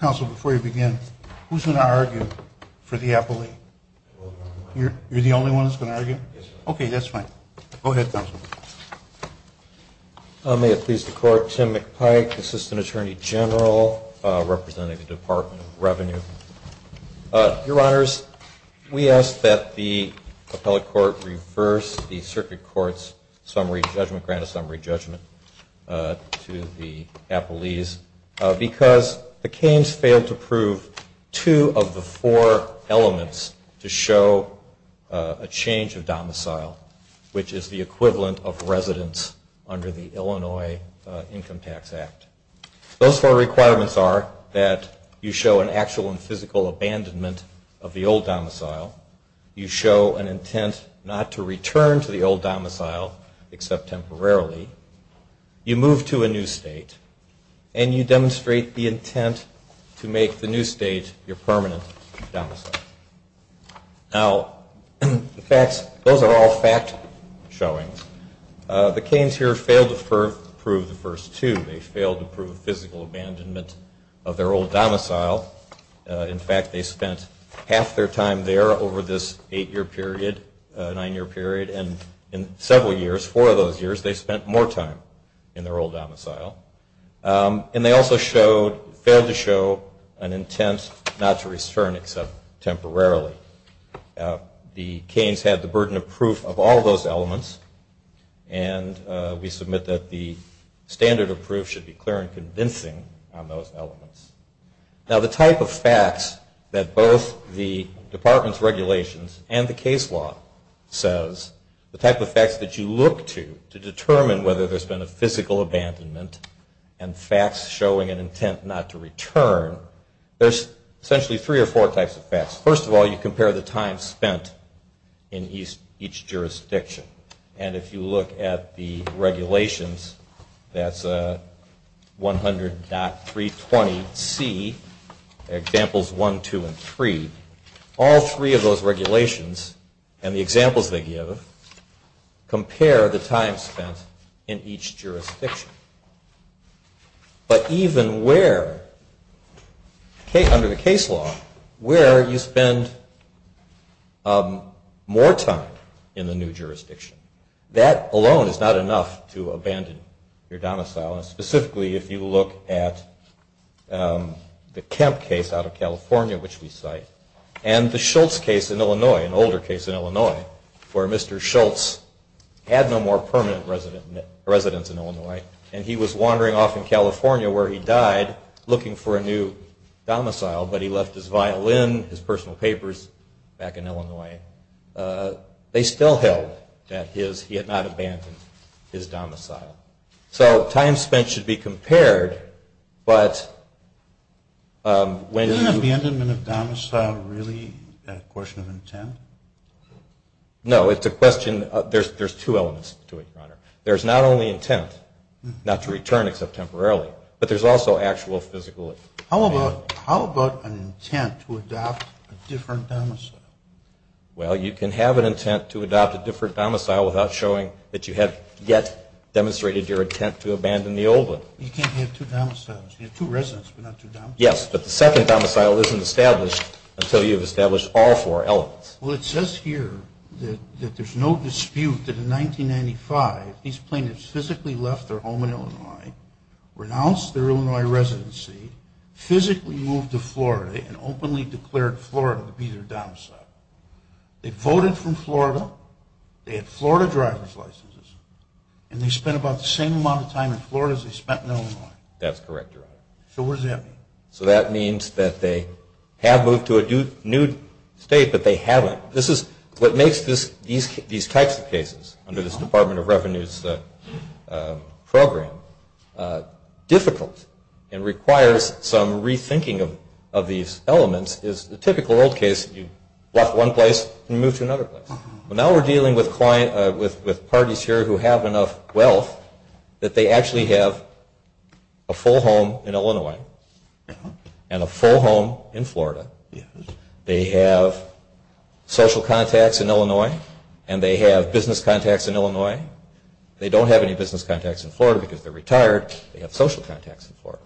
Council, before you begin, who's going to argue for the appellate? You're the only one that's going to argue? Okay, that's fine. Go ahead, Councilman. May it please the Court, Tim McPike, Assistant Attorney General, representing the Department of Revenue. Your Honors, we ask that the appellate court reverse the circuit court's summary judgment, grant a summary judgment to the appellees, because the Cains failed to prove two of the four elements to show a change of domicile, which is the equivalent of residence under the Illinois Income Tax Act. Those four requirements are that you show an actual and physical abandonment of the old domicile, you show an intent not to return to the old domicile except temporarily, you move to a new state, and you demonstrate the intent to make the new state your permanent domicile. Now, the facts, those are all fact showing. The Cains here failed to prove the first two. They failed to prove physical abandonment of their old domicile. In fact, they spent half their time there over this eight year period, nine year period, and in several years, four of those years, they spent more time in their old domicile. And they also failed to show an intent not to return except temporarily. The Cains had the burden of proof of all those elements, and we submit that the standard of proof should be clear and convincing on those elements. Now, the type of facts that both the Department's regulations and the case law says, the type of facts that you look to, to determine whether there's been a physical abandonment and facts showing an intent not to return, there's essentially three or four types of facts. First of all, you compare the time spent in each jurisdiction. And if you look at the regulations, that's 100.320C, examples 1, 2, and 3. All three of those regulations and the examples they give compare the time spent in each jurisdiction. But even where, under the case law, where you spend more time in the new jurisdiction, that alone is not enough to abandon your domicile. And specifically, if you look at the Kemp case out of California, which we cite, and the Schultz case in Illinois, an older case in Illinois, where Mr. Schultz had no more permanent residence in Illinois, and he was wandering off in California where he died looking for a new domicile, but he left his violin, his personal papers back in Illinois, they still held that he had not abandoned his domicile. So time spent should be compared, but when you... Isn't abandonment of domicile really a question of intent? No, it's a question of, there's two elements to it, Your Honor. There's not only intent, not to return except temporarily, but there's also actual physical... How about an intent to adopt a different domicile? Well, you can have an intent to adopt a different domicile without showing that you have yet demonstrated your intent to abandon the old one. You can't have two domiciles. You have two residents, but not two domiciles. Yes, but the second domicile isn't established until you've established all four elements. Well, it says here that there's no dispute that in 1995, these plaintiffs physically left their home in Illinois, renounced their Illinois residency, physically moved to Florida, and openly declared Florida to be their domicile. They voted from Florida, they had Florida driver's licenses, and they spent about the same amount of time in Florida as they spent in Illinois. That's correct, Your Honor. So what does that mean? So that means that they have moved to a new state, but they haven't. This is what makes these types of cases under this Department of Revenue's program difficult and requires some rethinking of these elements, is the typical old case that you left one place and moved to another place. Well, now we're dealing with parties here who have enough wealth that they actually have a full home in Illinois and a full home in Florida. They have social contacts in Illinois, and they have business contacts in Illinois. They don't have any business contacts in Florida because they're retired. They have social contacts in Florida.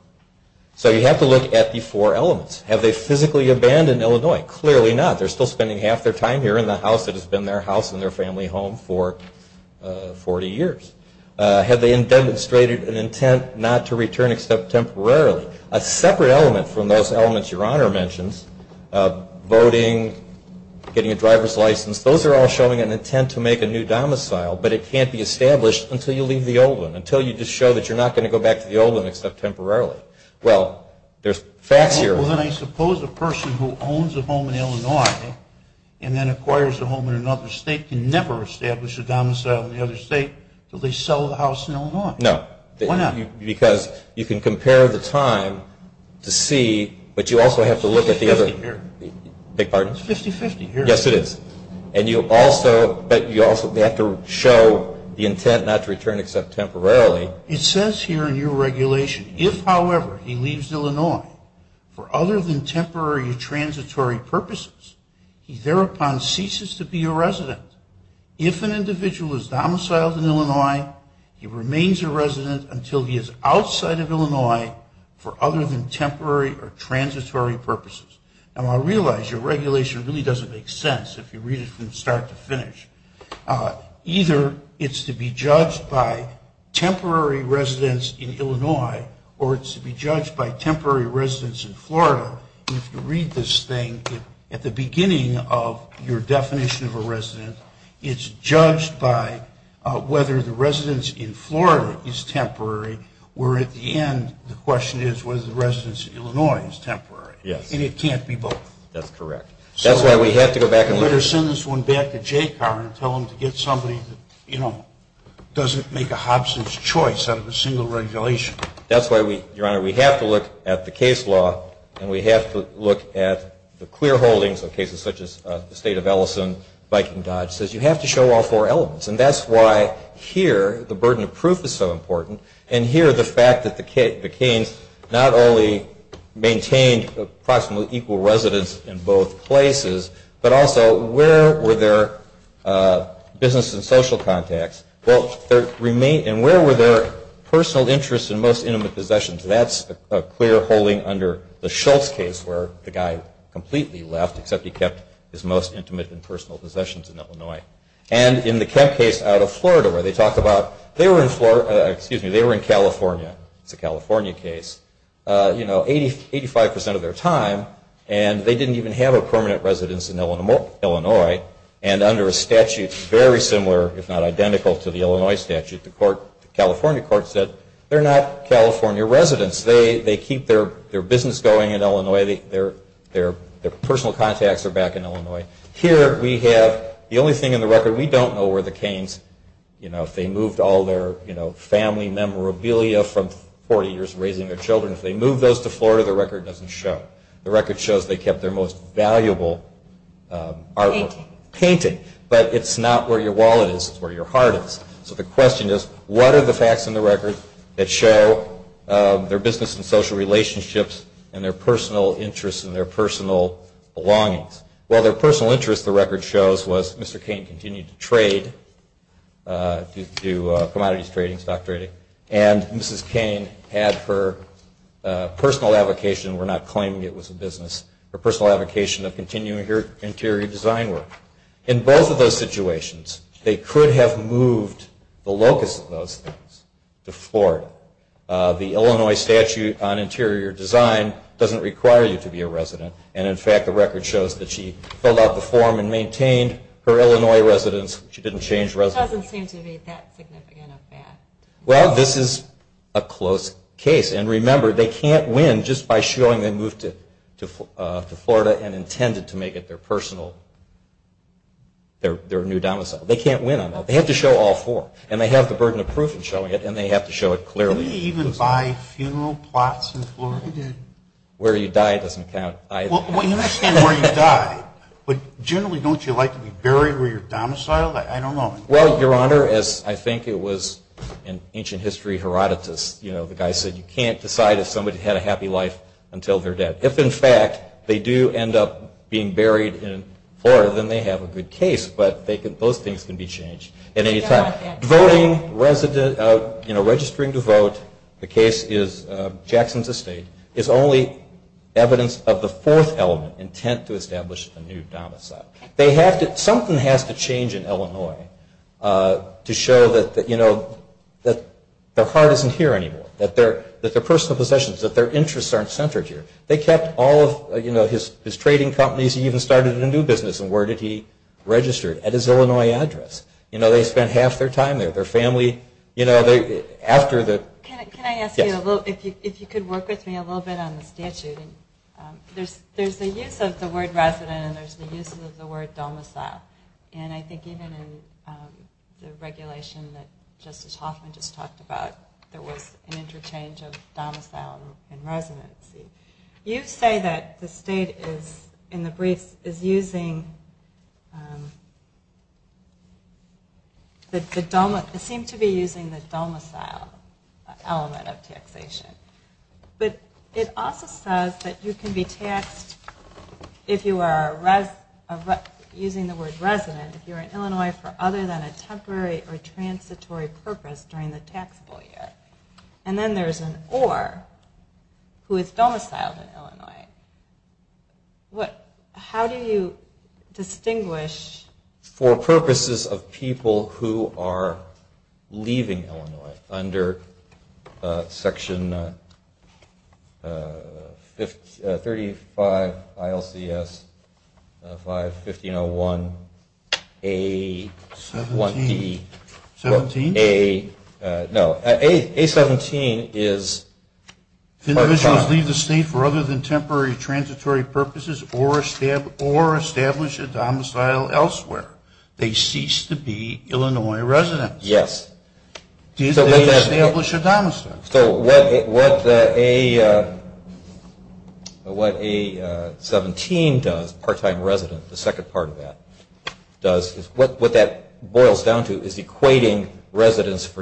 So you have to look at the four elements. Have they physically abandoned Illinois? Clearly not. They're still spending half their time here in the house that has been their house and their family home for 40 years. Have they demonstrated an intent not to return except temporarily? A separate element from those elements Your Honor mentions, voting, getting a driver's license, those are all showing an intent to make a new domicile, but it can't be established until you leave the old one, until you just show that you're not going to go back to the old one except temporarily. Well, there's facts here. Well, then I suppose a person who owns a home in Illinois and then acquires a home in another state can never establish a domicile in the other state until they sell the house in Illinois. No. Why not? Because you can compare the time to see, but you also have to look at the other... It's 50-50 here. Beg your pardon? It's 50-50 here. Yes, it is. And you also have to show the intent not to return except temporarily. It says here in your regulation, if, however, he leaves Illinois for other than temporary or transitory purposes, he thereupon ceases to be a resident. If an individual is domiciled in Illinois, he remains a resident until he is outside of Illinois for other than temporary or transitory purposes. Now, I realize your regulation really doesn't make sense if you read it from start to finish. Either it's to be judged by temporary residence in Illinois or it's to be judged by temporary residence in Florida. If you read this thing, at the beginning of your definition of a resident, it's judged by whether the residence in Florida is temporary, where at the end, the question is whether the residence in Illinois is temporary. Yes. And it can't be both. That's correct. That's why we have to go back and look at it. Better send this one back to JCAR and tell them to get somebody that, you know, doesn't make a hobson's choice out of a single regulation. That's why, Your Honor, we have to look at the case law, and we have to look at the clear holdings of cases such as the state of Ellison, Viking Dodge. It says you have to show all four elements. And that's why here the burden of proof is so important, and here the fact that the Keynes not only maintained approximately equal residence in both places, but also where were their business and social contacts? And where were their personal interests and most intimate possessions? That's a clear holding under the Schultz case, where the guy completely left, except he kept his most intimate and personal possessions in Illinois. And in the Kemp case out of Florida, where they talk about they were in California, it's a California case, you know, 85% of their time, and they didn't even have a permanent residence in Illinois, and under a statute very similar, if not identical, to the Illinois statute, the California court said they're not California residents. They keep their business going in Illinois. Their personal contacts are back in Illinois. Here we have the only thing in the record we don't know were the Keynes, you know, if they moved all their family memorabilia from 40 years of raising their children. If they moved those to Florida, the record doesn't show. The record shows they kept their most valuable artwork. Painting. Painting. But it's not where your wallet is, it's where your heart is. So the question is, what are the facts in the record that show their business and social relationships and their personal interests and their personal belongings? Well, their personal interest, the record shows, was Mr. Keynes continued to trade, to do commodities trading, stock trading, and Mrs. Keynes had her personal avocation. We're not claiming it was a business. Her personal avocation of continuing her interior design work. In both of those situations, they could have moved the locus of those things to Florida. The Illinois statute on interior design doesn't require you to be a resident, and, in fact, the record shows that she filled out the form and maintained her Illinois residence. She didn't change residence. It doesn't seem to be that significant of a fact. Well, this is a close case. And, remember, they can't win just by showing they moved to Florida and intended to make it their personal, their new domicile. They can't win on that. They have to show all four. And they have the burden of proof in showing it, and they have to show it clearly. Did they even buy funeral plots in Florida? Where you died doesn't count either. Well, you understand where you died, but generally don't you like to be buried where you're domiciled? I don't know. Well, Your Honor, as I think it was in ancient history, Herodotus, the guy said you can't decide if somebody had a happy life until they're dead. If, in fact, they do end up being buried in Florida, then they have a good case, but those things can be changed at any time. Registering to vote, the case is Jackson's estate, is only evidence of the fourth element, intent to establish a new domicile. Something has to change in Illinois to show that their heart isn't here anymore, that their personal possessions, that their interests aren't centered here. They kept all of his trading companies. He even started a new business. And where did he register? At his Illinois address. They spent half their time there. Their family, after the- Can I ask you, if you could work with me a little bit on the statute. There's the use of the word resident and there's the use of the word domicile. And I think even in the regulation that Justice Hoffman just talked about, there was an interchange of domicile and residency. You say that the state is, in the briefs, is using the domicile element of taxation. But it also says that you can be taxed, using the word resident, if you're in Illinois for other than a temporary or transitory purpose during the taxable year. And then there's an or, who is domiciled in Illinois. How do you distinguish- 35 ILCS 5501-A-17. 17? No, A-17 is- If individuals leave the state for other than temporary or transitory purposes or establish a domicile elsewhere, they cease to be Illinois residents. Yes. Did they establish a domicile? So what A-17 does, part-time resident, the second part of that, what that boils down to is equating residence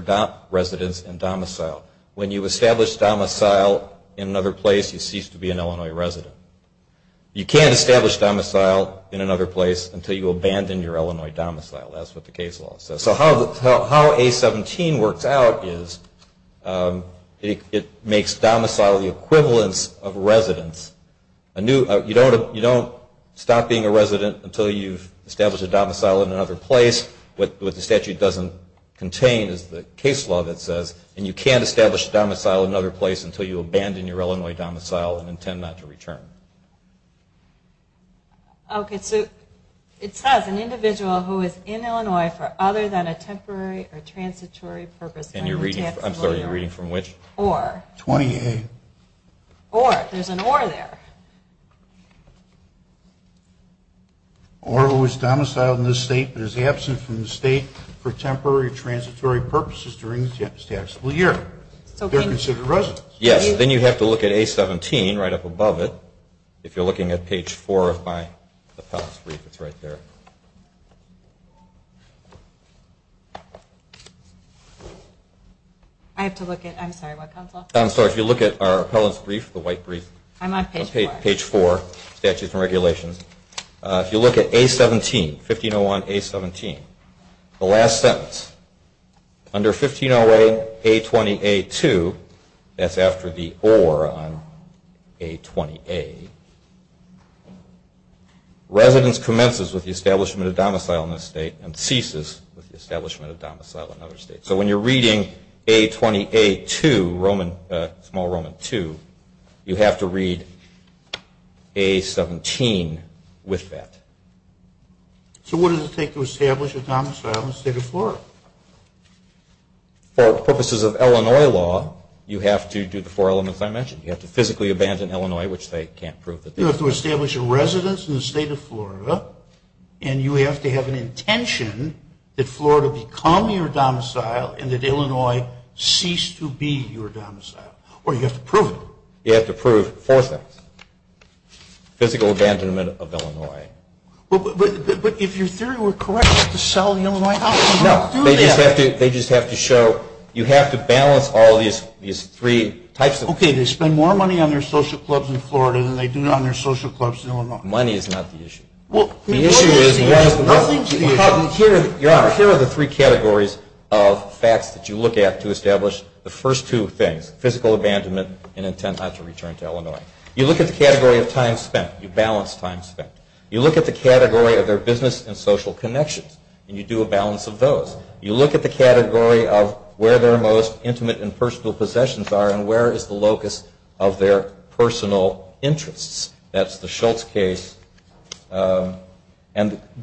and domicile. When you establish domicile in another place, you cease to be an Illinois resident. You can't establish domicile in another place until you abandon your Illinois domicile. That's what the case law says. So how A-17 works out is it makes domicile the equivalence of residence. You don't stop being a resident until you've established a domicile in another place. What the statute doesn't contain is the case law that says, and you can't establish a domicile in another place until you abandon your Illinois domicile and intend not to return. Okay. So it says an individual who is in Illinois for other than a temporary or transitory purpose during the taxable year. I'm sorry. You're reading from which? Or. 28. Or. There's an or there. Or who is domiciled in this state but is absent from the state for temporary or transitory purposes during the taxable year. They're considered residents. Yes. Then you have to look at A-17 right up above it. If you're looking at page 4 of my appellate's brief, it's right there. I have to look at. I'm sorry. What council? I'm sorry. If you look at our appellate's brief, the white brief. I'm on page 4. Page 4, Statutes and Regulations. If you look at A-17, 1501 A-17, the last sentence. Under 1508 A-20 A-2, that's after the or on A-20 A, residents commences with the establishment of domicile in this state and ceases with the establishment of domicile in other states. So when you're reading A-20 A-2, small Roman II, you have to read A-17 with that. So what does it take to establish a domicile in the state of Florida? For purposes of Illinois law, you have to do the four elements I mentioned. You have to physically abandon Illinois, which they can't prove. You have to establish a residence in the state of Florida, and you have to have an intention that Florida become your domicile and that Illinois cease to be your domicile, or you have to prove it. You have to prove four things. Physical abandonment of Illinois. But if your theory were correct to sell the Illinois house, how do you do that? No, they just have to show you have to balance all these three types of things. Okay, they spend more money on their social clubs in Florida than they do on their social clubs in Illinois. Money is not the issue. The issue is, here are the three categories of facts that you look at to establish the first two things, physical abandonment and intent not to return to Illinois. You look at the category of time spent. You balance time spent. You look at the category of their business and social connections, and you do a balance of those. You look at the category of where their most intimate and personal possessions are and where is the locus of their personal interests. That's the Schultz case. And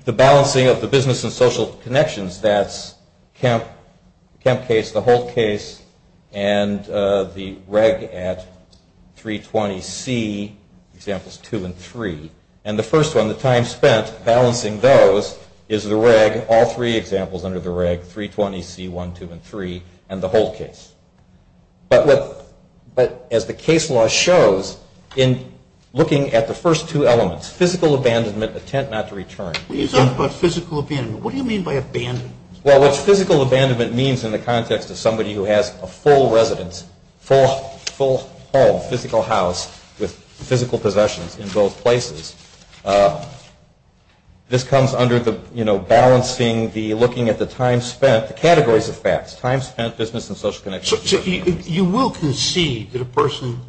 the balancing of the business and social connections, that's Kemp case, the Holt case, and the reg at 320C, examples two and three. And the first one, the time spent balancing those is the reg, all three examples under the reg, 320C, one, two, and three, and the Holt case. But as the case law shows, in looking at the first two elements, physical abandonment, intent not to return. When you talk about physical abandonment, what do you mean by abandonment? Well, what physical abandonment means in the context of somebody who has a full residence, full home, physical house with physical possessions in both places, this comes under the balancing, the looking at the time spent, the categories of facts, time spent, business and social connections. So you will concede that a person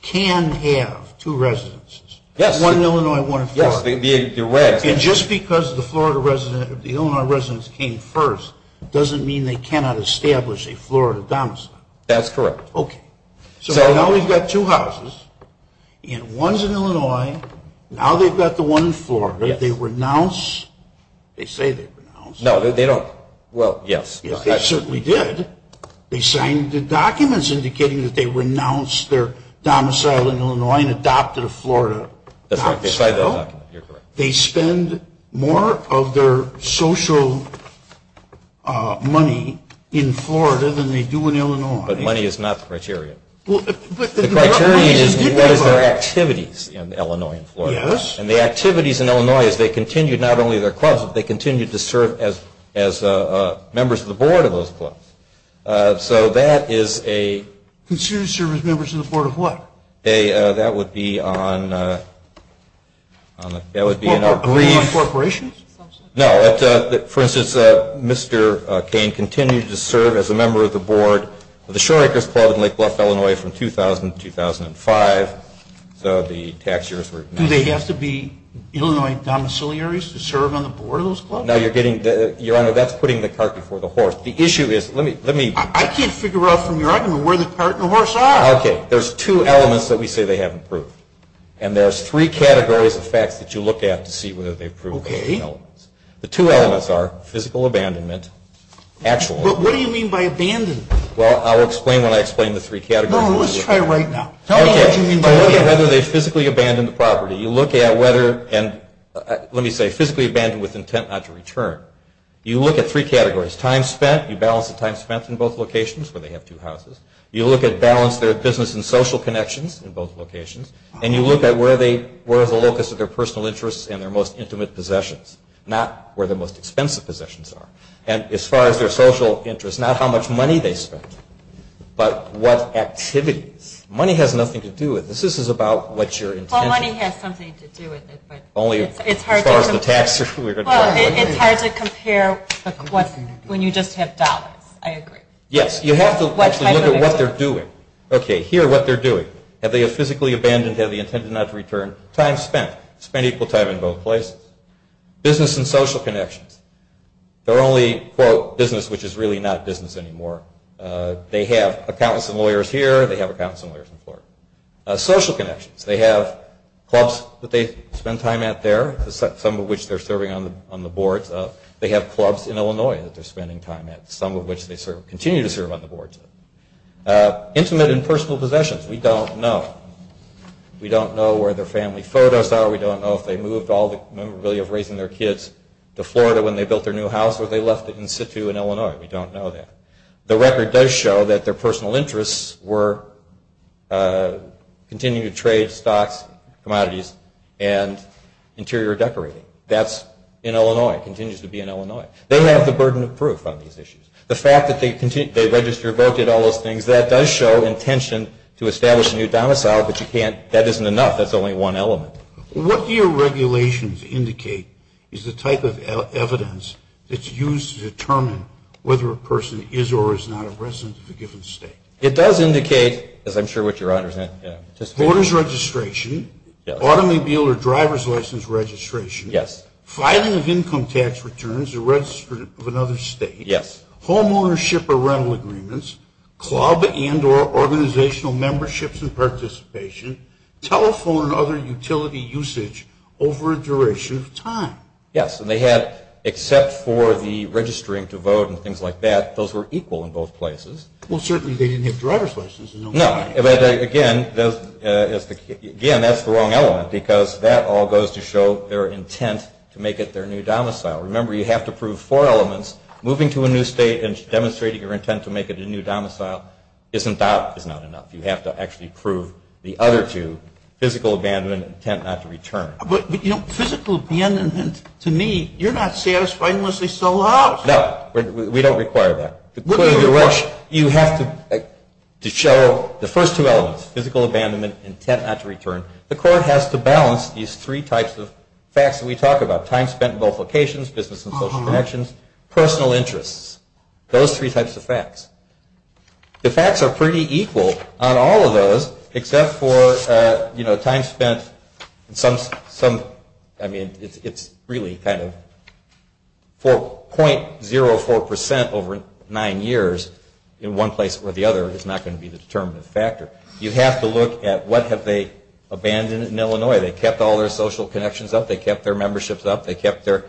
can have two residences? Yes. One in Illinois and one in Florida? Yes, the regs. And just because the Illinois residents came first doesn't mean they cannot establish a Florida domicile? That's correct. Okay. So now we've got two houses, and one's in Illinois, now they've got the one in Florida, they renounce, they say they renounce. No, they don't. Well, yes. Yes, they certainly did. They signed the documents indicating that they renounced their domicile in Illinois and adopted a Florida domicile. That's right. They signed the document. You're correct. They spend more of their social money in Florida than they do in Illinois. But money is not the criteria. The criteria is what is their activities in Illinois and Florida. Yes. And the activities in Illinois is they continue not only their clubs, but they continue to serve as members of the board of those clubs. So that is a – Consumers serve as members of the board of what? That would be on – that would be in a brief – Are they on corporations? No. For instance, Mr. Cain continued to serve as a member of the board of the Shore Acres Club in Lake Bluff, Illinois, from 2000 to 2005. So the tax years were – Do they have to be Illinois domiciliaries to serve on the board of those clubs? No, you're getting – Your Honor, that's putting the cart before the horse. The issue is – let me – I can't figure out from your argument where the cart and the horse are. Okay. There's two elements that we say they haven't proved. And there's three categories of facts that you look at to see whether they've proved those elements. Okay. The two elements are physical abandonment, actual – But what do you mean by abandonment? Well, I'll explain when I explain the three categories. No, let's try right now. Tell me what you mean by abandonment. Okay. By whether they physically abandoned the property. You look at whether – and let me say physically abandoned with intent not to return. You look at three categories. Time spent. You balance the time spent in both locations where they have two houses. You look at – balance their business and social connections in both locations. And you look at where they – where is the locus of their personal interests and their most intimate possessions, not where their most expensive possessions are. And as far as their social interests, not how much money they spend, but what activities. Money has nothing to do with this. This is about what your intention – Well, money has something to do with it, but – Only as far as the tax – Well, it's hard to compare when you just have dollars. I agree. Yes. You have to actually look at what they're doing. Okay. Here, what they're doing. Have they physically abandoned? Have they intended not to return? Time spent. Spent equal time in both places. Business and social connections. They're only, quote, business, which is really not business anymore. They have accountants and lawyers here. They have accountants and lawyers in Florida. Social connections. They have clubs that they spend time at there, some of which they're serving on the boards of. They have clubs in Illinois that they're spending time at, some of which they continue to serve on the boards of. Intimate and personal possessions. We don't know. We don't know where their family photos are. We don't know if they moved all the memorabilia of raising their kids to Florida when they built their new house or they left it in situ in Illinois. We don't know that. The record does show that their personal interests were continuing to trade stocks, commodities, and interior decorating. That's in Illinois. It continues to be in Illinois. They have the burden of proof on these issues. The fact that they register, vote, did all those things, that does show intention to establish a new domicile, but that isn't enough. That's only one element. What do your regulations indicate is the type of evidence that's used to determine whether a person is or is not a resident of a given state? It does indicate, as I'm sure what your honors anticipated. Voter's registration. Automobile or driver's license registration. Yes. Filing of income tax returns or registered of another state. Yes. Home ownership or rental agreements. Club and or organizational memberships and participation. Telephone and other utility usage over a duration of time. Yes. And they had, except for the registering to vote and things like that, those were equal in both places. Well, certainly they didn't have driver's license in Illinois. No. Again, that's the wrong element because that all goes to show their intent to make it their new domicile. Remember, you have to prove four elements. Moving to a new state and demonstrating your intent to make it a new domicile is not enough. You have to actually prove the other two, physical abandonment, intent not to return. But, you know, physical abandonment, to me, you're not satisfying unless they sell the house. No. We don't require that. You have to show the first two elements, physical abandonment, intent not to return. The court has to balance these three types of facts that we talk about, time spent in both locations, business and social connections, personal interests. Those three types of facts. The facts are pretty equal on all of those except for, you know, time spent in some, I mean, it's really kind of 4.04% over nine years in one place or the other is not going to be the determinative factor. You have to look at what have they abandoned in Illinois. They kept all their social connections up. They kept their memberships up. They kept their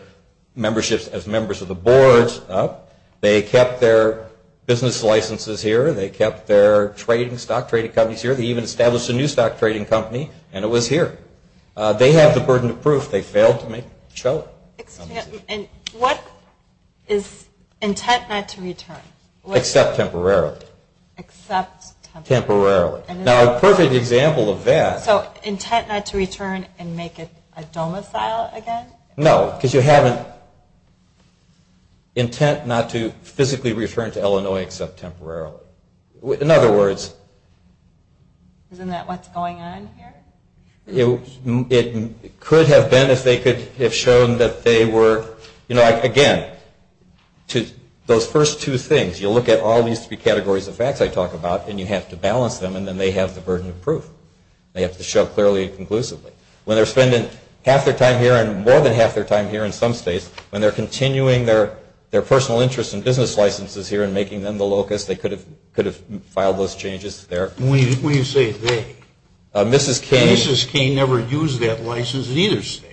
memberships as members of the boards up. They kept their business licenses here. They kept their stock trading companies here. They even established a new stock trading company, and it was here. They have the burden of proof. They failed to show it. What is intent not to return? Except temporarily. Except temporarily. Temporarily. Now, a perfect example of that. So intent not to return and make it a domicile again? No, because you have an intent not to physically return to Illinois except temporarily. In other words. Isn't that what's going on here? It could have been if they could have shown that they were, you know, again, those first two things, you look at all these three categories of facts I talk about and you have to balance them, and then they have the burden of proof. They have to show clearly and conclusively. When they're spending half their time here and more than half their time here in some states, when they're continuing their personal interests and business licenses here and making them the locus, they could have filed those changes there. When you say they. Mrs. K. Mrs. K. never used that license in either state.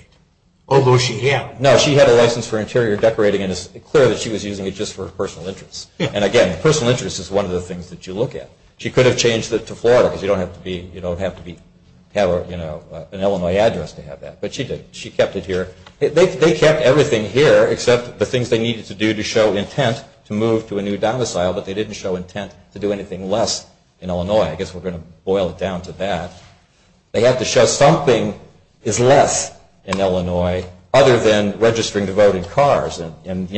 Although she had. No, she had a license for interior decorating, and it's clear that she was using it just for her personal interests. And again, personal interests is one of the things that you look at. She could have changed it to Florida because you don't have to have an Illinois address to have that. But she did. She kept it here. They kept everything here except the things they needed to do to show intent to move to a new domicile, but they didn't show intent to do anything less in Illinois. I guess we're going to boil it down to that. They have to show something is less in Illinois other than registering to vote in cars and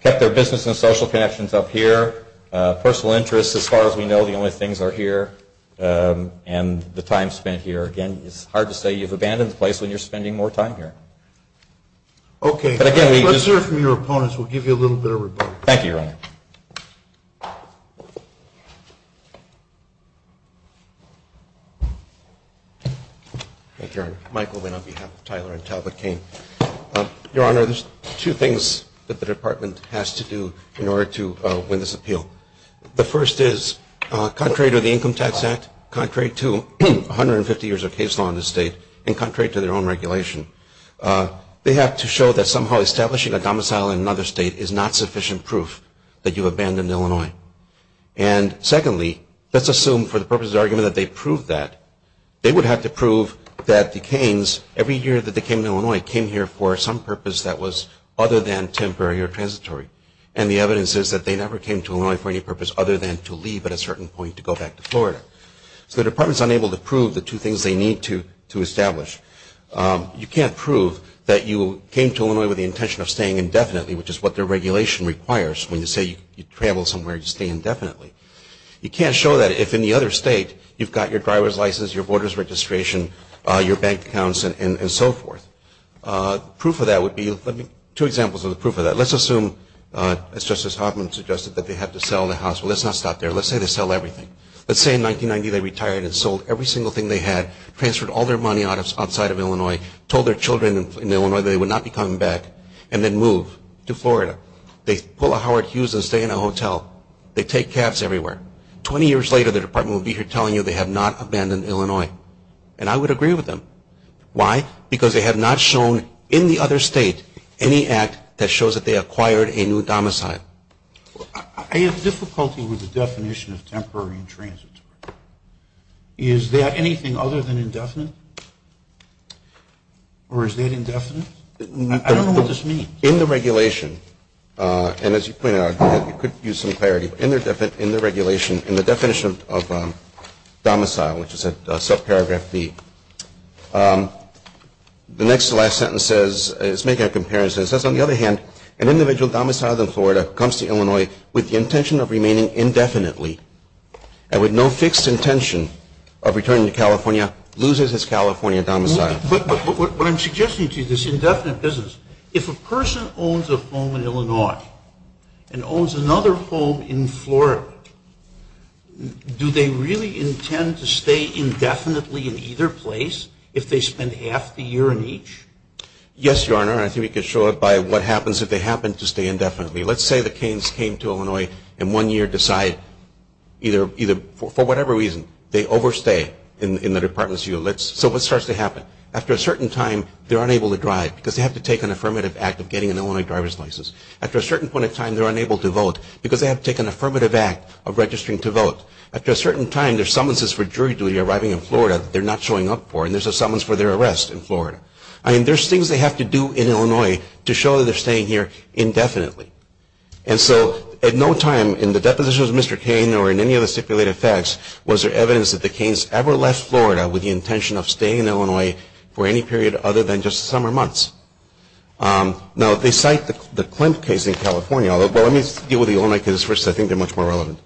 kept their business and social connections up here. Personal interests, as far as we know, the only things are here, and the time spent here. Again, it's hard to say you've abandoned the place when you're spending more time here. Okay. Let's hear from your opponents. We'll give you a little bit of rebuttal. Thank you, Your Honor. Thank you, Your Honor. Michael Winn on behalf of Tyler and Talbot Cain. Your Honor, there's two things that the department has to do in order to win this appeal. The first is, contrary to the Income Tax Act, contrary to 150 years of case law in this state, and contrary to their own regulation, they have to show that somehow establishing a domicile in another state is not sufficient proof that you've abandoned Illinois. And secondly, let's assume for the purposes of argument that they proved that. They would have to prove that the Cains, every year that they came to Illinois, came here for some purpose that was other than temporary or transitory. And the evidence is that they never came to Illinois for any purpose other than to leave at a certain point to go back to Florida. So the department is unable to prove the two things they need to establish. You can't prove that you came to Illinois with the intention of staying indefinitely, which is what their regulation requires when you say you travel somewhere, you stay indefinitely. You can't show that if in the other state you've got your driver's license, your voter's registration, your bank accounts, and so forth. Proof of that would be, let me, two examples of the proof of that. Let's assume, as Justice Hoffman suggested, that they had to sell the house. Well, let's not stop there. Let's say they sell everything. Let's say in 1990 they retired and sold every single thing they had, transferred all their money outside of Illinois, told their children in Illinois they would not be coming back, and then move to Florida. They pull a Howard Hughes and stay in a hotel. They take cabs everywhere. Twenty years later the department will be here telling you they have not abandoned Illinois. And I would agree with them. Why? Because they have not shown in the other state any act that shows that they acquired a new domicile. I have difficulty with the definition of temporary and transitory. Is there anything other than indefinite? Or is that indefinite? I don't know what this means. In the regulation, and as you pointed out, you could use some clarity. In the regulation, in the definition of domicile, which is at subparagraph B, the next to last sentence says, it's making a comparison, it says, on the other hand, an individual domiciled in Florida comes to Illinois with the intention of remaining indefinitely and with no fixed intention of returning to California, loses his California domicile. What I'm suggesting to you, this indefinite business, if a person owns a home in Illinois and owns another home in Florida, do they really intend to stay indefinitely in either place if they spend half the year in each? Yes, Your Honor. I think we can show it by what happens if they happen to stay indefinitely. Let's say the Canes came to Illinois and one year decide, for whatever reason, they overstay in the department's view. So what starts to happen? After a certain time, they're unable to drive because they have to take an affirmative act of getting an Illinois driver's license. After a certain point in time, they're unable to vote because they have to take an affirmative act of registering to vote. After a certain time, there's summonses for jury duty arriving in Florida that they're not showing up for, and there's a summons for their arrest in Florida. I mean, there's things they have to do in Illinois to show that they're staying here indefinitely. And so at no time in the depositions of Mr. Cain or in any of the stipulated facts was there evidence that the Canes ever left Florida with the intention of staying in Illinois for any period other than just the summer months. Now, they cite the Klimt case in California. Well, let me deal with the Illinois case first because I think they're much more relevant.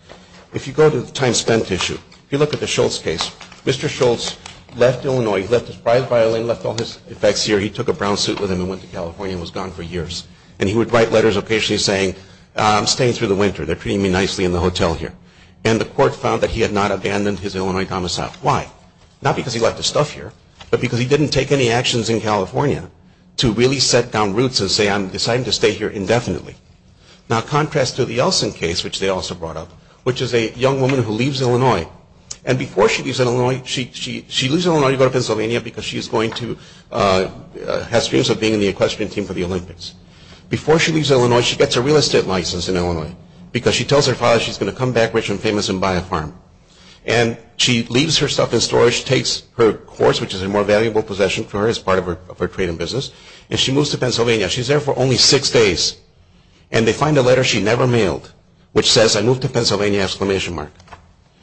If you go to the time spent issue, if you look at the Schultz case, Mr. Schultz left Illinois. He left his prize violin, left all his effects here. He took a brown suit with him and went to California and was gone for years. And he would write letters occasionally saying, I'm staying through the winter. They're treating me nicely in the hotel here. And the court found that he had not abandoned his Illinois domicile. Why? Not because he left his stuff here, but because he didn't take any actions in California to really set down roots and say, I'm deciding to stay here indefinitely. Now, contrast to the Elson case, which they also brought up, which is a young woman who leaves Illinois. And before she leaves Illinois, she leaves Illinois to go to Pennsylvania because she has dreams of being in the equestrian team for the Olympics. Before she leaves Illinois, she gets a real estate license in Illinois because she tells her father she's going to come back rich and famous and buy a farm. And she leaves her stuff in storage, takes her horse, which is a more valuable possession for her as part of her trade and business, and she moves to Pennsylvania. She's there for only six days. And they find a letter she never mailed which says, I moved to Pennsylvania exclamation mark.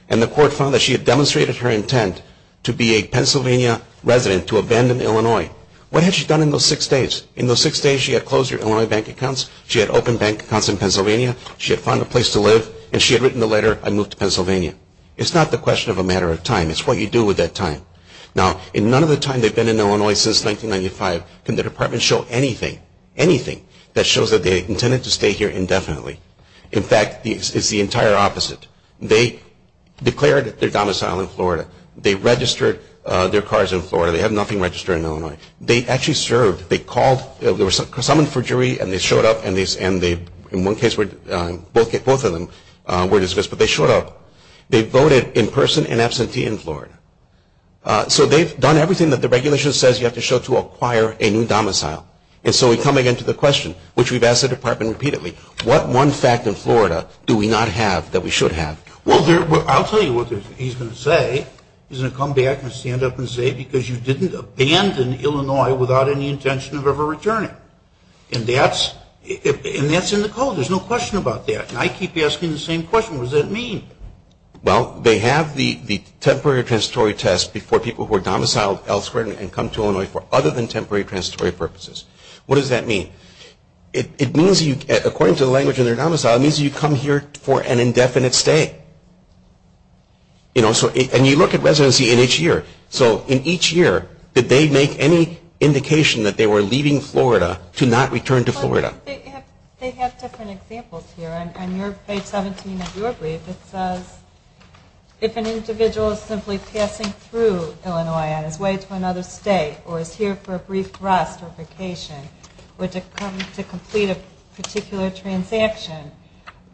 And the court found that she had demonstrated her intent to be a Pennsylvania resident, to abandon Illinois. What had she done in those six days? In those six days, she had closed her Illinois bank accounts. She had opened bank accounts in Pennsylvania. She had found a place to live. And she had written the letter, I moved to Pennsylvania. It's not the question of a matter of time. It's what you do with that time. Now, in none of the time they've been in Illinois since 1995 can the department show anything, anything that shows that they intended to stay here indefinitely. In fact, it's the entire opposite. They declared their domicile in Florida. They registered their cars in Florida. They have nothing registered in Illinois. They actually served. They were summoned for jury, and they showed up. And in one case, both of them were dismissed. But they showed up. They voted in person in absentee in Florida. So they've done everything that the regulation says you have to show to acquire a new domicile. And so we come again to the question, which we've asked the department repeatedly, what one fact in Florida do we not have that we should have? Well, I'll tell you what he's going to say. He's going to come back and stand up and say, because you didn't abandon Illinois without any intention of ever returning. And that's in the code. There's no question about that. And I keep asking the same question, what does that mean? Well, they have the temporary transitory test before people who are domiciled elsewhere and come to Illinois for other than temporary transitory purposes. What does that mean? It means you, according to the language in their domicile, it means you come here for an indefinite stay. And you look at residency in each year. So in each year, did they make any indication that they were leaving Florida to not return to Florida? They have different examples here. On page 17 of your brief, it says if an individual is simply passing through Illinois on his way to another state or is here for a brief rest or vacation or to come to complete a particular transaction,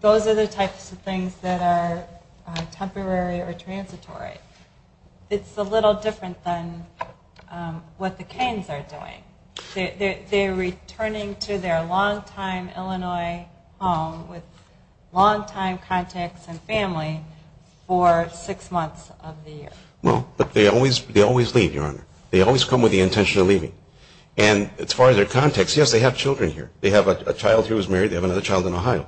those are the types of things that are temporary or transitory. It's a little different than what the Keynes are doing. They're returning to their longtime Illinois home with longtime contacts and family for six months of the year. Well, but they always leave, Your Honor. They always come with the intention of leaving. And as far as their contacts, yes, they have children here. They have a child who is married. They have another child in Ohio.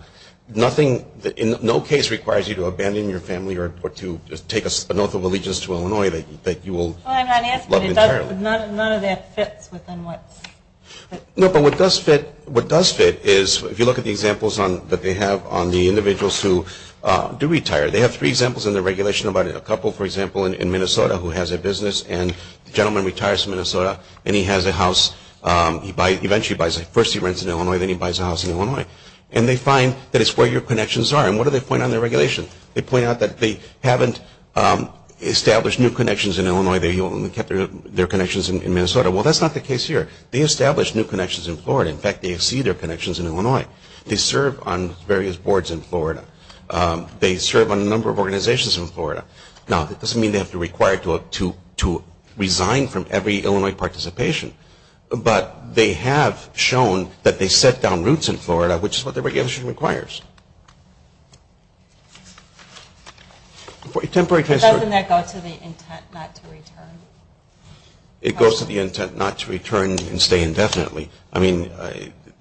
Nothing in no case requires you to abandon your family or to take a spinoff of allegiance to Illinois that you will love entirely. Well, I'm not asking. None of that fits within what's fit. No, but what does fit is if you look at the examples that they have on the individuals who do retire. They have three examples in the regulation about it. A couple, for example, in Minnesota who has a business, and the gentleman retires from Minnesota and he has a house. First he rents in Illinois, then he buys a house in Illinois. And they find that it's where your connections are. And what do they point out in the regulation? They point out that they haven't established new connections in Illinois. They only kept their connections in Minnesota. Well, that's not the case here. They established new connections in Florida. In fact, they exceed their connections in Illinois. They serve on various boards in Florida. They serve on a number of organizations in Florida. Now, that doesn't mean they have to require to resign from every Illinois participation, but they have shown that they set down roots in Florida, which is what the regulation requires. Doesn't that go to the intent not to return? It goes to the intent not to return and stay indefinitely. I mean,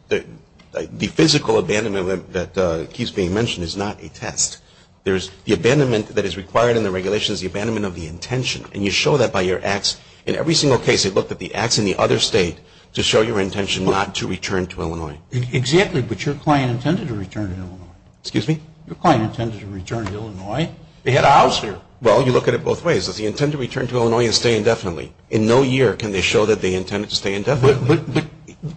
the physical abandonment that keeps being mentioned is not a test. The abandonment that is required in the regulation is the abandonment of the intention. And you show that by your acts. In every single case, they looked at the acts in the other state to show your intention not to return to Illinois. Exactly, but your client intended to return to Illinois. Excuse me? Your client intended to return to Illinois. They had a house here. Well, you look at it both ways. Does he intend to return to Illinois and stay indefinitely? In no year can they show that they intended to stay indefinitely. But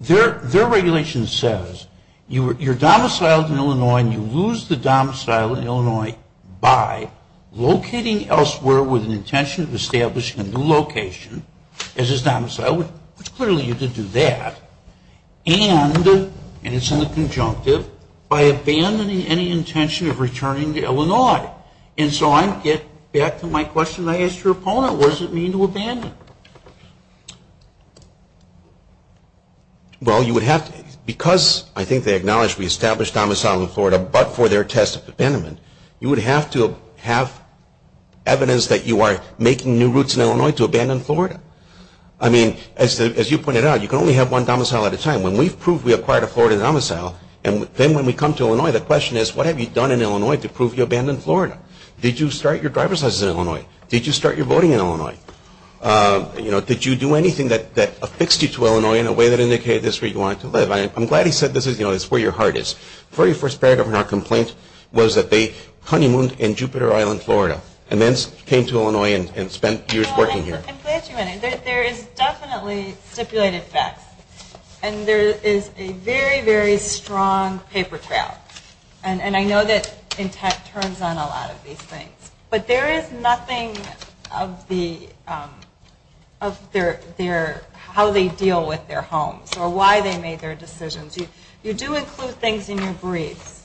their regulation says you're domiciled in Illinois, and you lose the domicile in Illinois by locating elsewhere with an intention of establishing a new location as his domicile, which clearly you could do that, and it's in the conjunctive, by abandoning any intention of returning to Illinois. And so I get back to my question I asked your opponent. What does it mean to abandon? Well, you would have to, because I think they acknowledge we established domicile in Florida, but for their test of abandonment, you would have to have evidence that you are making new routes in Illinois to abandon Florida. I mean, as you pointed out, you can only have one domicile at a time. When we've proved we acquired a Florida domicile, and then when we come to Illinois, the question is, what have you done in Illinois to prove you abandoned Florida? Did you start your driver's license in Illinois? Did you start your voting in Illinois? Did you do anything that affixed you to Illinois in a way that indicated this is where you wanted to live? I'm glad he said this is where your heart is. The very first paragraph in our complaint was that they honeymooned in Jupiter Island, Florida, and then came to Illinois and spent years working here. I'm glad you went in. There is definitely stipulated facts, and there is a very, very strong paper trail. And I know that InTech turns on a lot of these things, but there is nothing of how they deal with their homes or why they made their decisions. You do include things in your briefs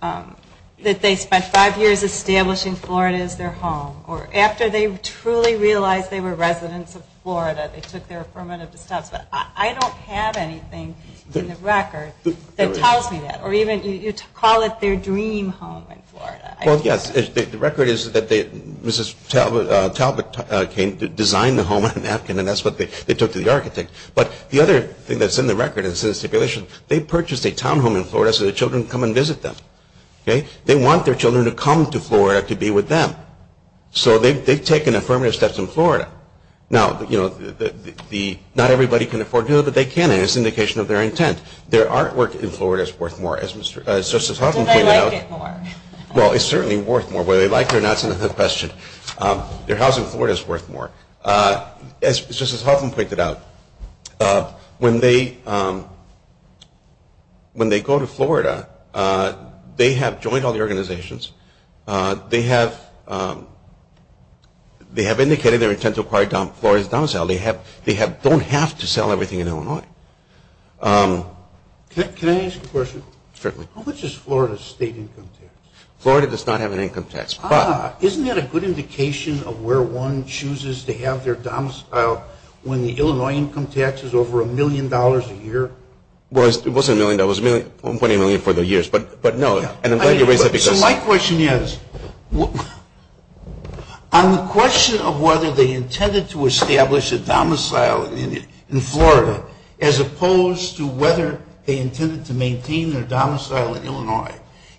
that they spent five years establishing Florida as their home, or after they truly realized they were residents of Florida, they took their affirmative steps. But I don't have anything in the record that tells me that. Or even you call it their dream home in Florida. Well, yes, the record is that Mrs. Talbot came to design the home in Atkin, and that's what they took to the architect. But the other thing that's in the record is the stipulation. They purchased a townhome in Florida so their children could come and visit them. They want their children to come to Florida to be with them. So they've taken affirmative steps in Florida. Now, not everybody can afford to do it, but they can, and it's an indication of their intent. Their artwork in Florida is worth more, as Justice Huffman pointed out. Well, it's certainly worth more. Whether they like it or not is another question. Their house in Florida is worth more. As Justice Huffman pointed out, when they go to Florida, they have joined all the organizations. They have indicated their intent to acquire Florida's down sale. They don't have to sell everything in Illinois. Can I ask a question? Certainly. How much is Florida's state income tax? Florida does not have an income tax. Isn't that a good indication of where one chooses to have their domicile when the Illinois income tax is over $1 million a year? Well, it wasn't $1 million. It was $1.8 million for the years, but no. So my question is, on the question of whether they intended to establish a domicile in Florida as opposed to whether they intended to maintain their domicile in Illinois,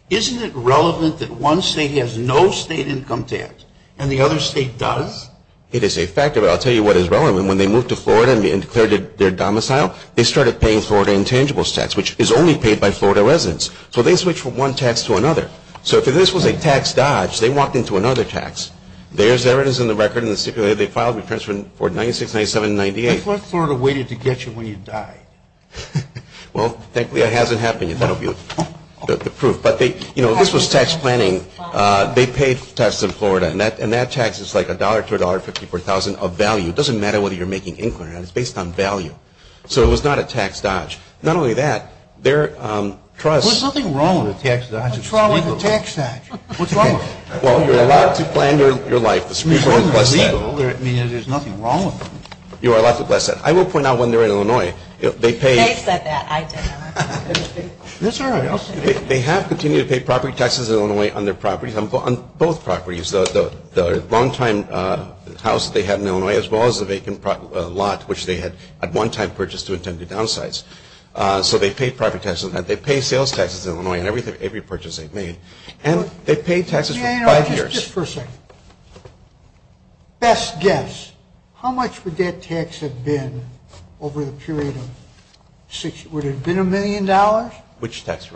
isn't it relevant that one state has no state income tax and the other state does? It is a fact of it. I'll tell you what is relevant. When they moved to Florida and declared it their domicile, they started paying Florida intangibles tax, which is only paid by Florida residents. So they switched from one tax to another. So if this was a tax dodge, they walked into another tax. There's evidence in the record that they filed returns for 96, 97, and 98. What if Florida waited to get you when you died? Well, thankfully that hasn't happened yet. That will be the proof. But, you know, this was tax planning. They paid taxes in Florida, and that tax is like $1 to $1.54 of value. It doesn't matter whether you're making income or not. It's based on value. So it was not a tax dodge. Not only that, there are trusts. There's nothing wrong with a tax dodge. What's wrong with a tax dodge? What's wrong with it? Well, you're allowed to plan your life. I mean, there's nothing wrong with it. You are allowed to plan. I will point out when they were in Illinois, they paid. They said that. I didn't. That's all right. They have continued to pay property taxes in Illinois on their properties, on both properties, the longtime house that they had in Illinois as well as the vacant lot, which they had at one time purchased to attempt to downsize. So they paid property taxes on that. And they've paid taxes for five years. Just for a second. Best guess, how much would that tax have been over the period of six years? Would it have been $1 million? Which tax?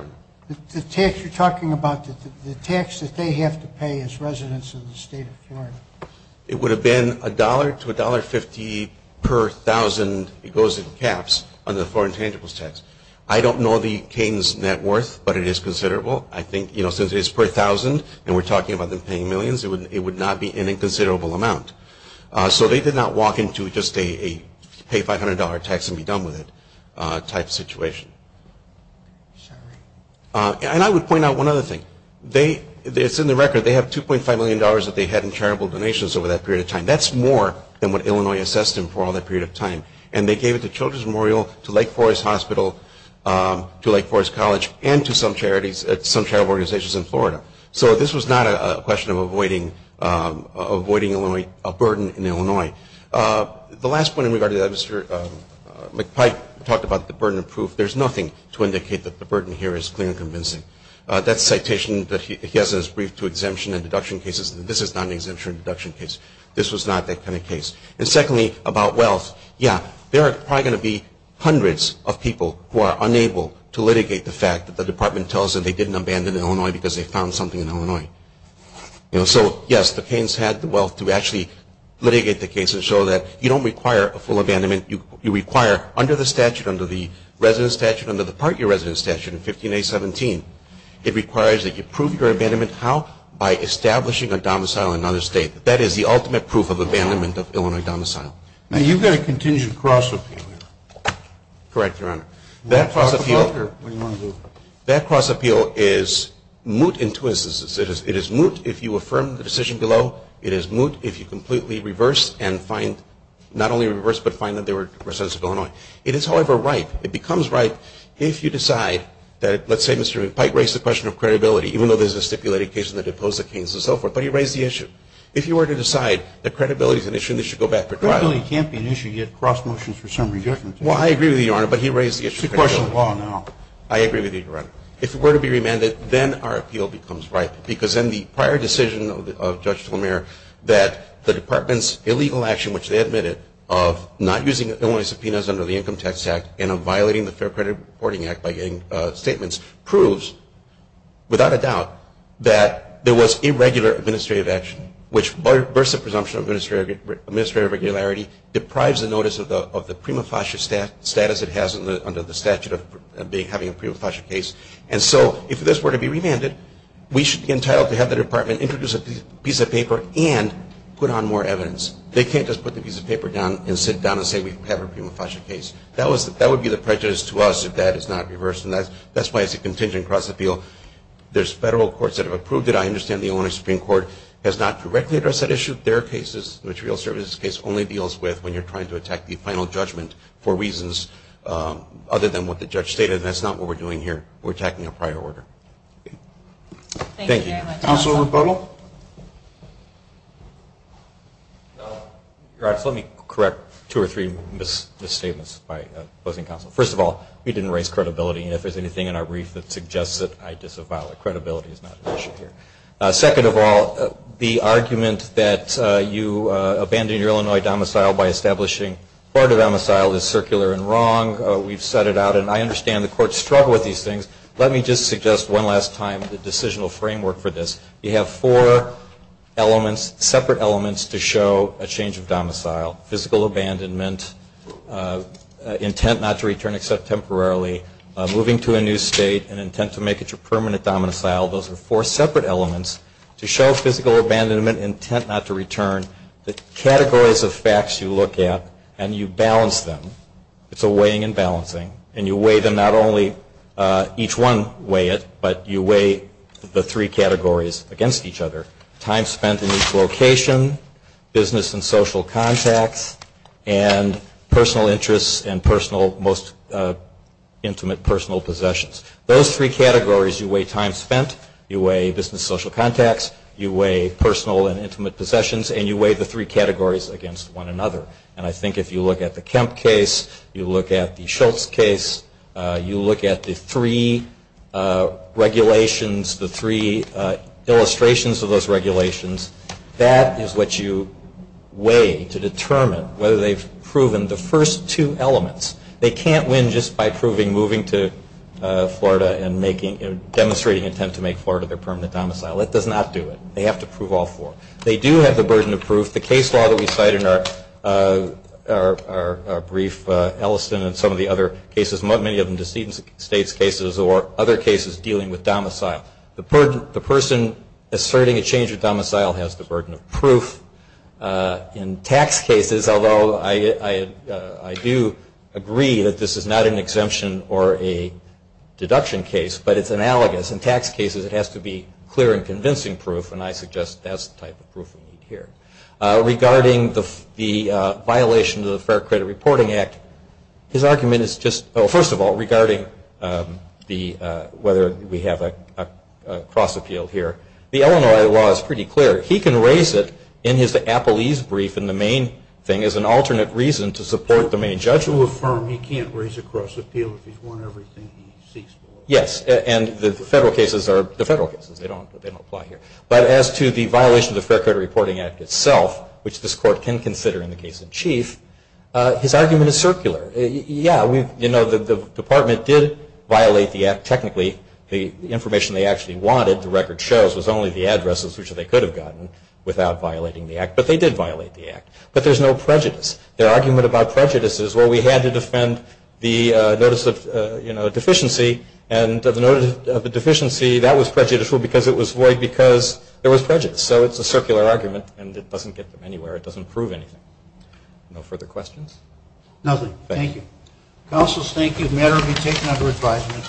The tax you're talking about, the tax that they have to pay as residents of the state of Florida. It would have been $1 to $1.50 per thousand. It goes in caps under the foreign tangibles tax. I don't know the cane's net worth, but it is considerable. I think since it's per thousand and we're talking about them paying millions, it would not be an inconsiderable amount. So they did not walk into just a pay $500 tax and be done with it type situation. And I would point out one other thing. It's in the record. They have $2.5 million that they had in charitable donations over that period of time. That's more than what Illinois assessed them for all that period of time. And they gave it to Children's Memorial, to Lake Forest Hospital, to Lake Forest College, and to some charitable organizations in Florida. So this was not a question of avoiding a burden in Illinois. The last point in regard to that, Mr. McPike talked about the burden of proof. There's nothing to indicate that the burden here is clear and convincing. That citation that he has is brief to exemption and deduction cases, and this is not an exemption and deduction case. This was not that kind of case. And secondly, about wealth, yeah, there are probably going to be hundreds of people who are unable to litigate the fact that the department tells them they didn't abandon Illinois because they found something in Illinois. So, yes, the Keynes had the wealth to actually litigate the case and show that you don't require a full abandonment. You require under the statute, under the resident statute, under the part year resident statute in 15A17, it requires that you prove your abandonment how? By establishing a domicile in another state. That is the ultimate proof of abandonment of Illinois domicile. Now, you've got a contingent cross-appeal here. Correct, Your Honor. That cross-appeal is moot in two instances. It is moot if you affirm the decision below. It is moot if you completely reverse and find, not only reverse, but find that they were residents of Illinois. It is, however, right, it becomes right if you decide that, let's say, Mr. McPike raised the question of credibility, even though there's a stipulated case in the depose of Keynes and so forth, but he raised the issue. If you were to decide that credibility is an issue and they should go back for trial. Credibility can't be an issue. You get cross-motions for some reason. Well, I agree with you, Your Honor, but he raised the issue. It's a question of law now. I agree with you, Your Honor. If it were to be remanded, then our appeal becomes right because in the prior decision of Judge Delamere that the department's illegal action, which they admitted, of not using Illinois subpoenas under the Income Tax Act and of violating the Fair Credit Reporting Act by getting statements, proves without a doubt that there was irregular administrative action. Which bursts the presumption of administrative irregularity, deprives the notice of the prima facie status it has under the statute of having a prima facie case. And so if this were to be remanded, we should be entitled to have the department introduce a piece of paper and put on more evidence. They can't just put the piece of paper down and sit down and say we have a prima facie case. That would be the prejudice to us if that is not reversed, and that's why it's a contingent cross-appeal. There's federal courts that have approved it. I understand the Illinois Supreme Court has not directly addressed that issue. Their case, the material services case, only deals with when you're trying to attack the final judgment for reasons other than what the judge stated, and that's not what we're doing here. We're attacking a prior order. Thank you. Thank you very much. Counsel Rebuttal. Let me correct two or three misstatements by opposing counsel. First of all, we didn't raise credibility, and if there's anything in our brief that suggests that I disavow, credibility is not an issue here. Second of all, the argument that you abandon your Illinois domicile by establishing court of domicile is circular and wrong. We've set it out, and I understand the courts struggle with these things. Let me just suggest one last time the decisional framework for this. You have four separate elements to show a change of domicile, physical abandonment, intent not to return except temporarily, moving to a new state, an intent to make it your permanent domicile. Those are four separate elements to show physical abandonment, intent not to return. The categories of facts you look at, and you balance them. It's a weighing and balancing, and you weigh them not only each one weigh it, but you weigh the three categories against each other. Time spent in each location, business and social contacts, and personal interests and most intimate personal possessions. Those three categories you weigh time spent, you weigh business and social contacts, you weigh personal and intimate possessions, and you weigh the three categories against one another. And I think if you look at the Kemp case, you look at the Schultz case, you look at the three regulations, the three illustrations of those regulations, that is what you weigh to determine whether they've proven the first two elements. They can't win just by proving moving to Florida and demonstrating intent to make Florida their permanent domicile. That does not do it. They have to prove all four. They do have the burden of proof. The case law that we cite in our brief, Elliston and some of the other cases, many of them deceitful states cases or other cases dealing with domicile. The person asserting a change of domicile has the burden of proof. In tax cases, although I do agree that this is not an exemption or a deduction case, but it's analogous. In tax cases it has to be clear and convincing proof, and I suggest that's the type of proof we need here. Regarding the violation of the Fair Credit Reporting Act, his argument is just, first of all, regarding whether we have a cross-appeal here. The Illinois law is pretty clear. He can raise it in his Appalese brief in the main thing as an alternate reason to support the main judgment. The judge will affirm he can't raise a cross-appeal if he's won everything he seeks. Yes, and the federal cases are the federal cases. They don't apply here. But as to the violation of the Fair Credit Reporting Act itself, which this court can consider in the case in chief, his argument is circular. Yes, the department did violate the Act technically. The information they actually wanted, the record shows, was only the addresses which they could have gotten without violating the Act. But they did violate the Act. But there's no prejudice. Their argument about prejudice is, well, we had to defend the notice of deficiency, and the notice of deficiency, that was prejudicial because it was void because there was prejudice. So it's a circular argument, and it doesn't get them anywhere. It doesn't prove anything. No further questions? Nothing. Thank you. Counsel, thank you. The matter will be taken under advisement.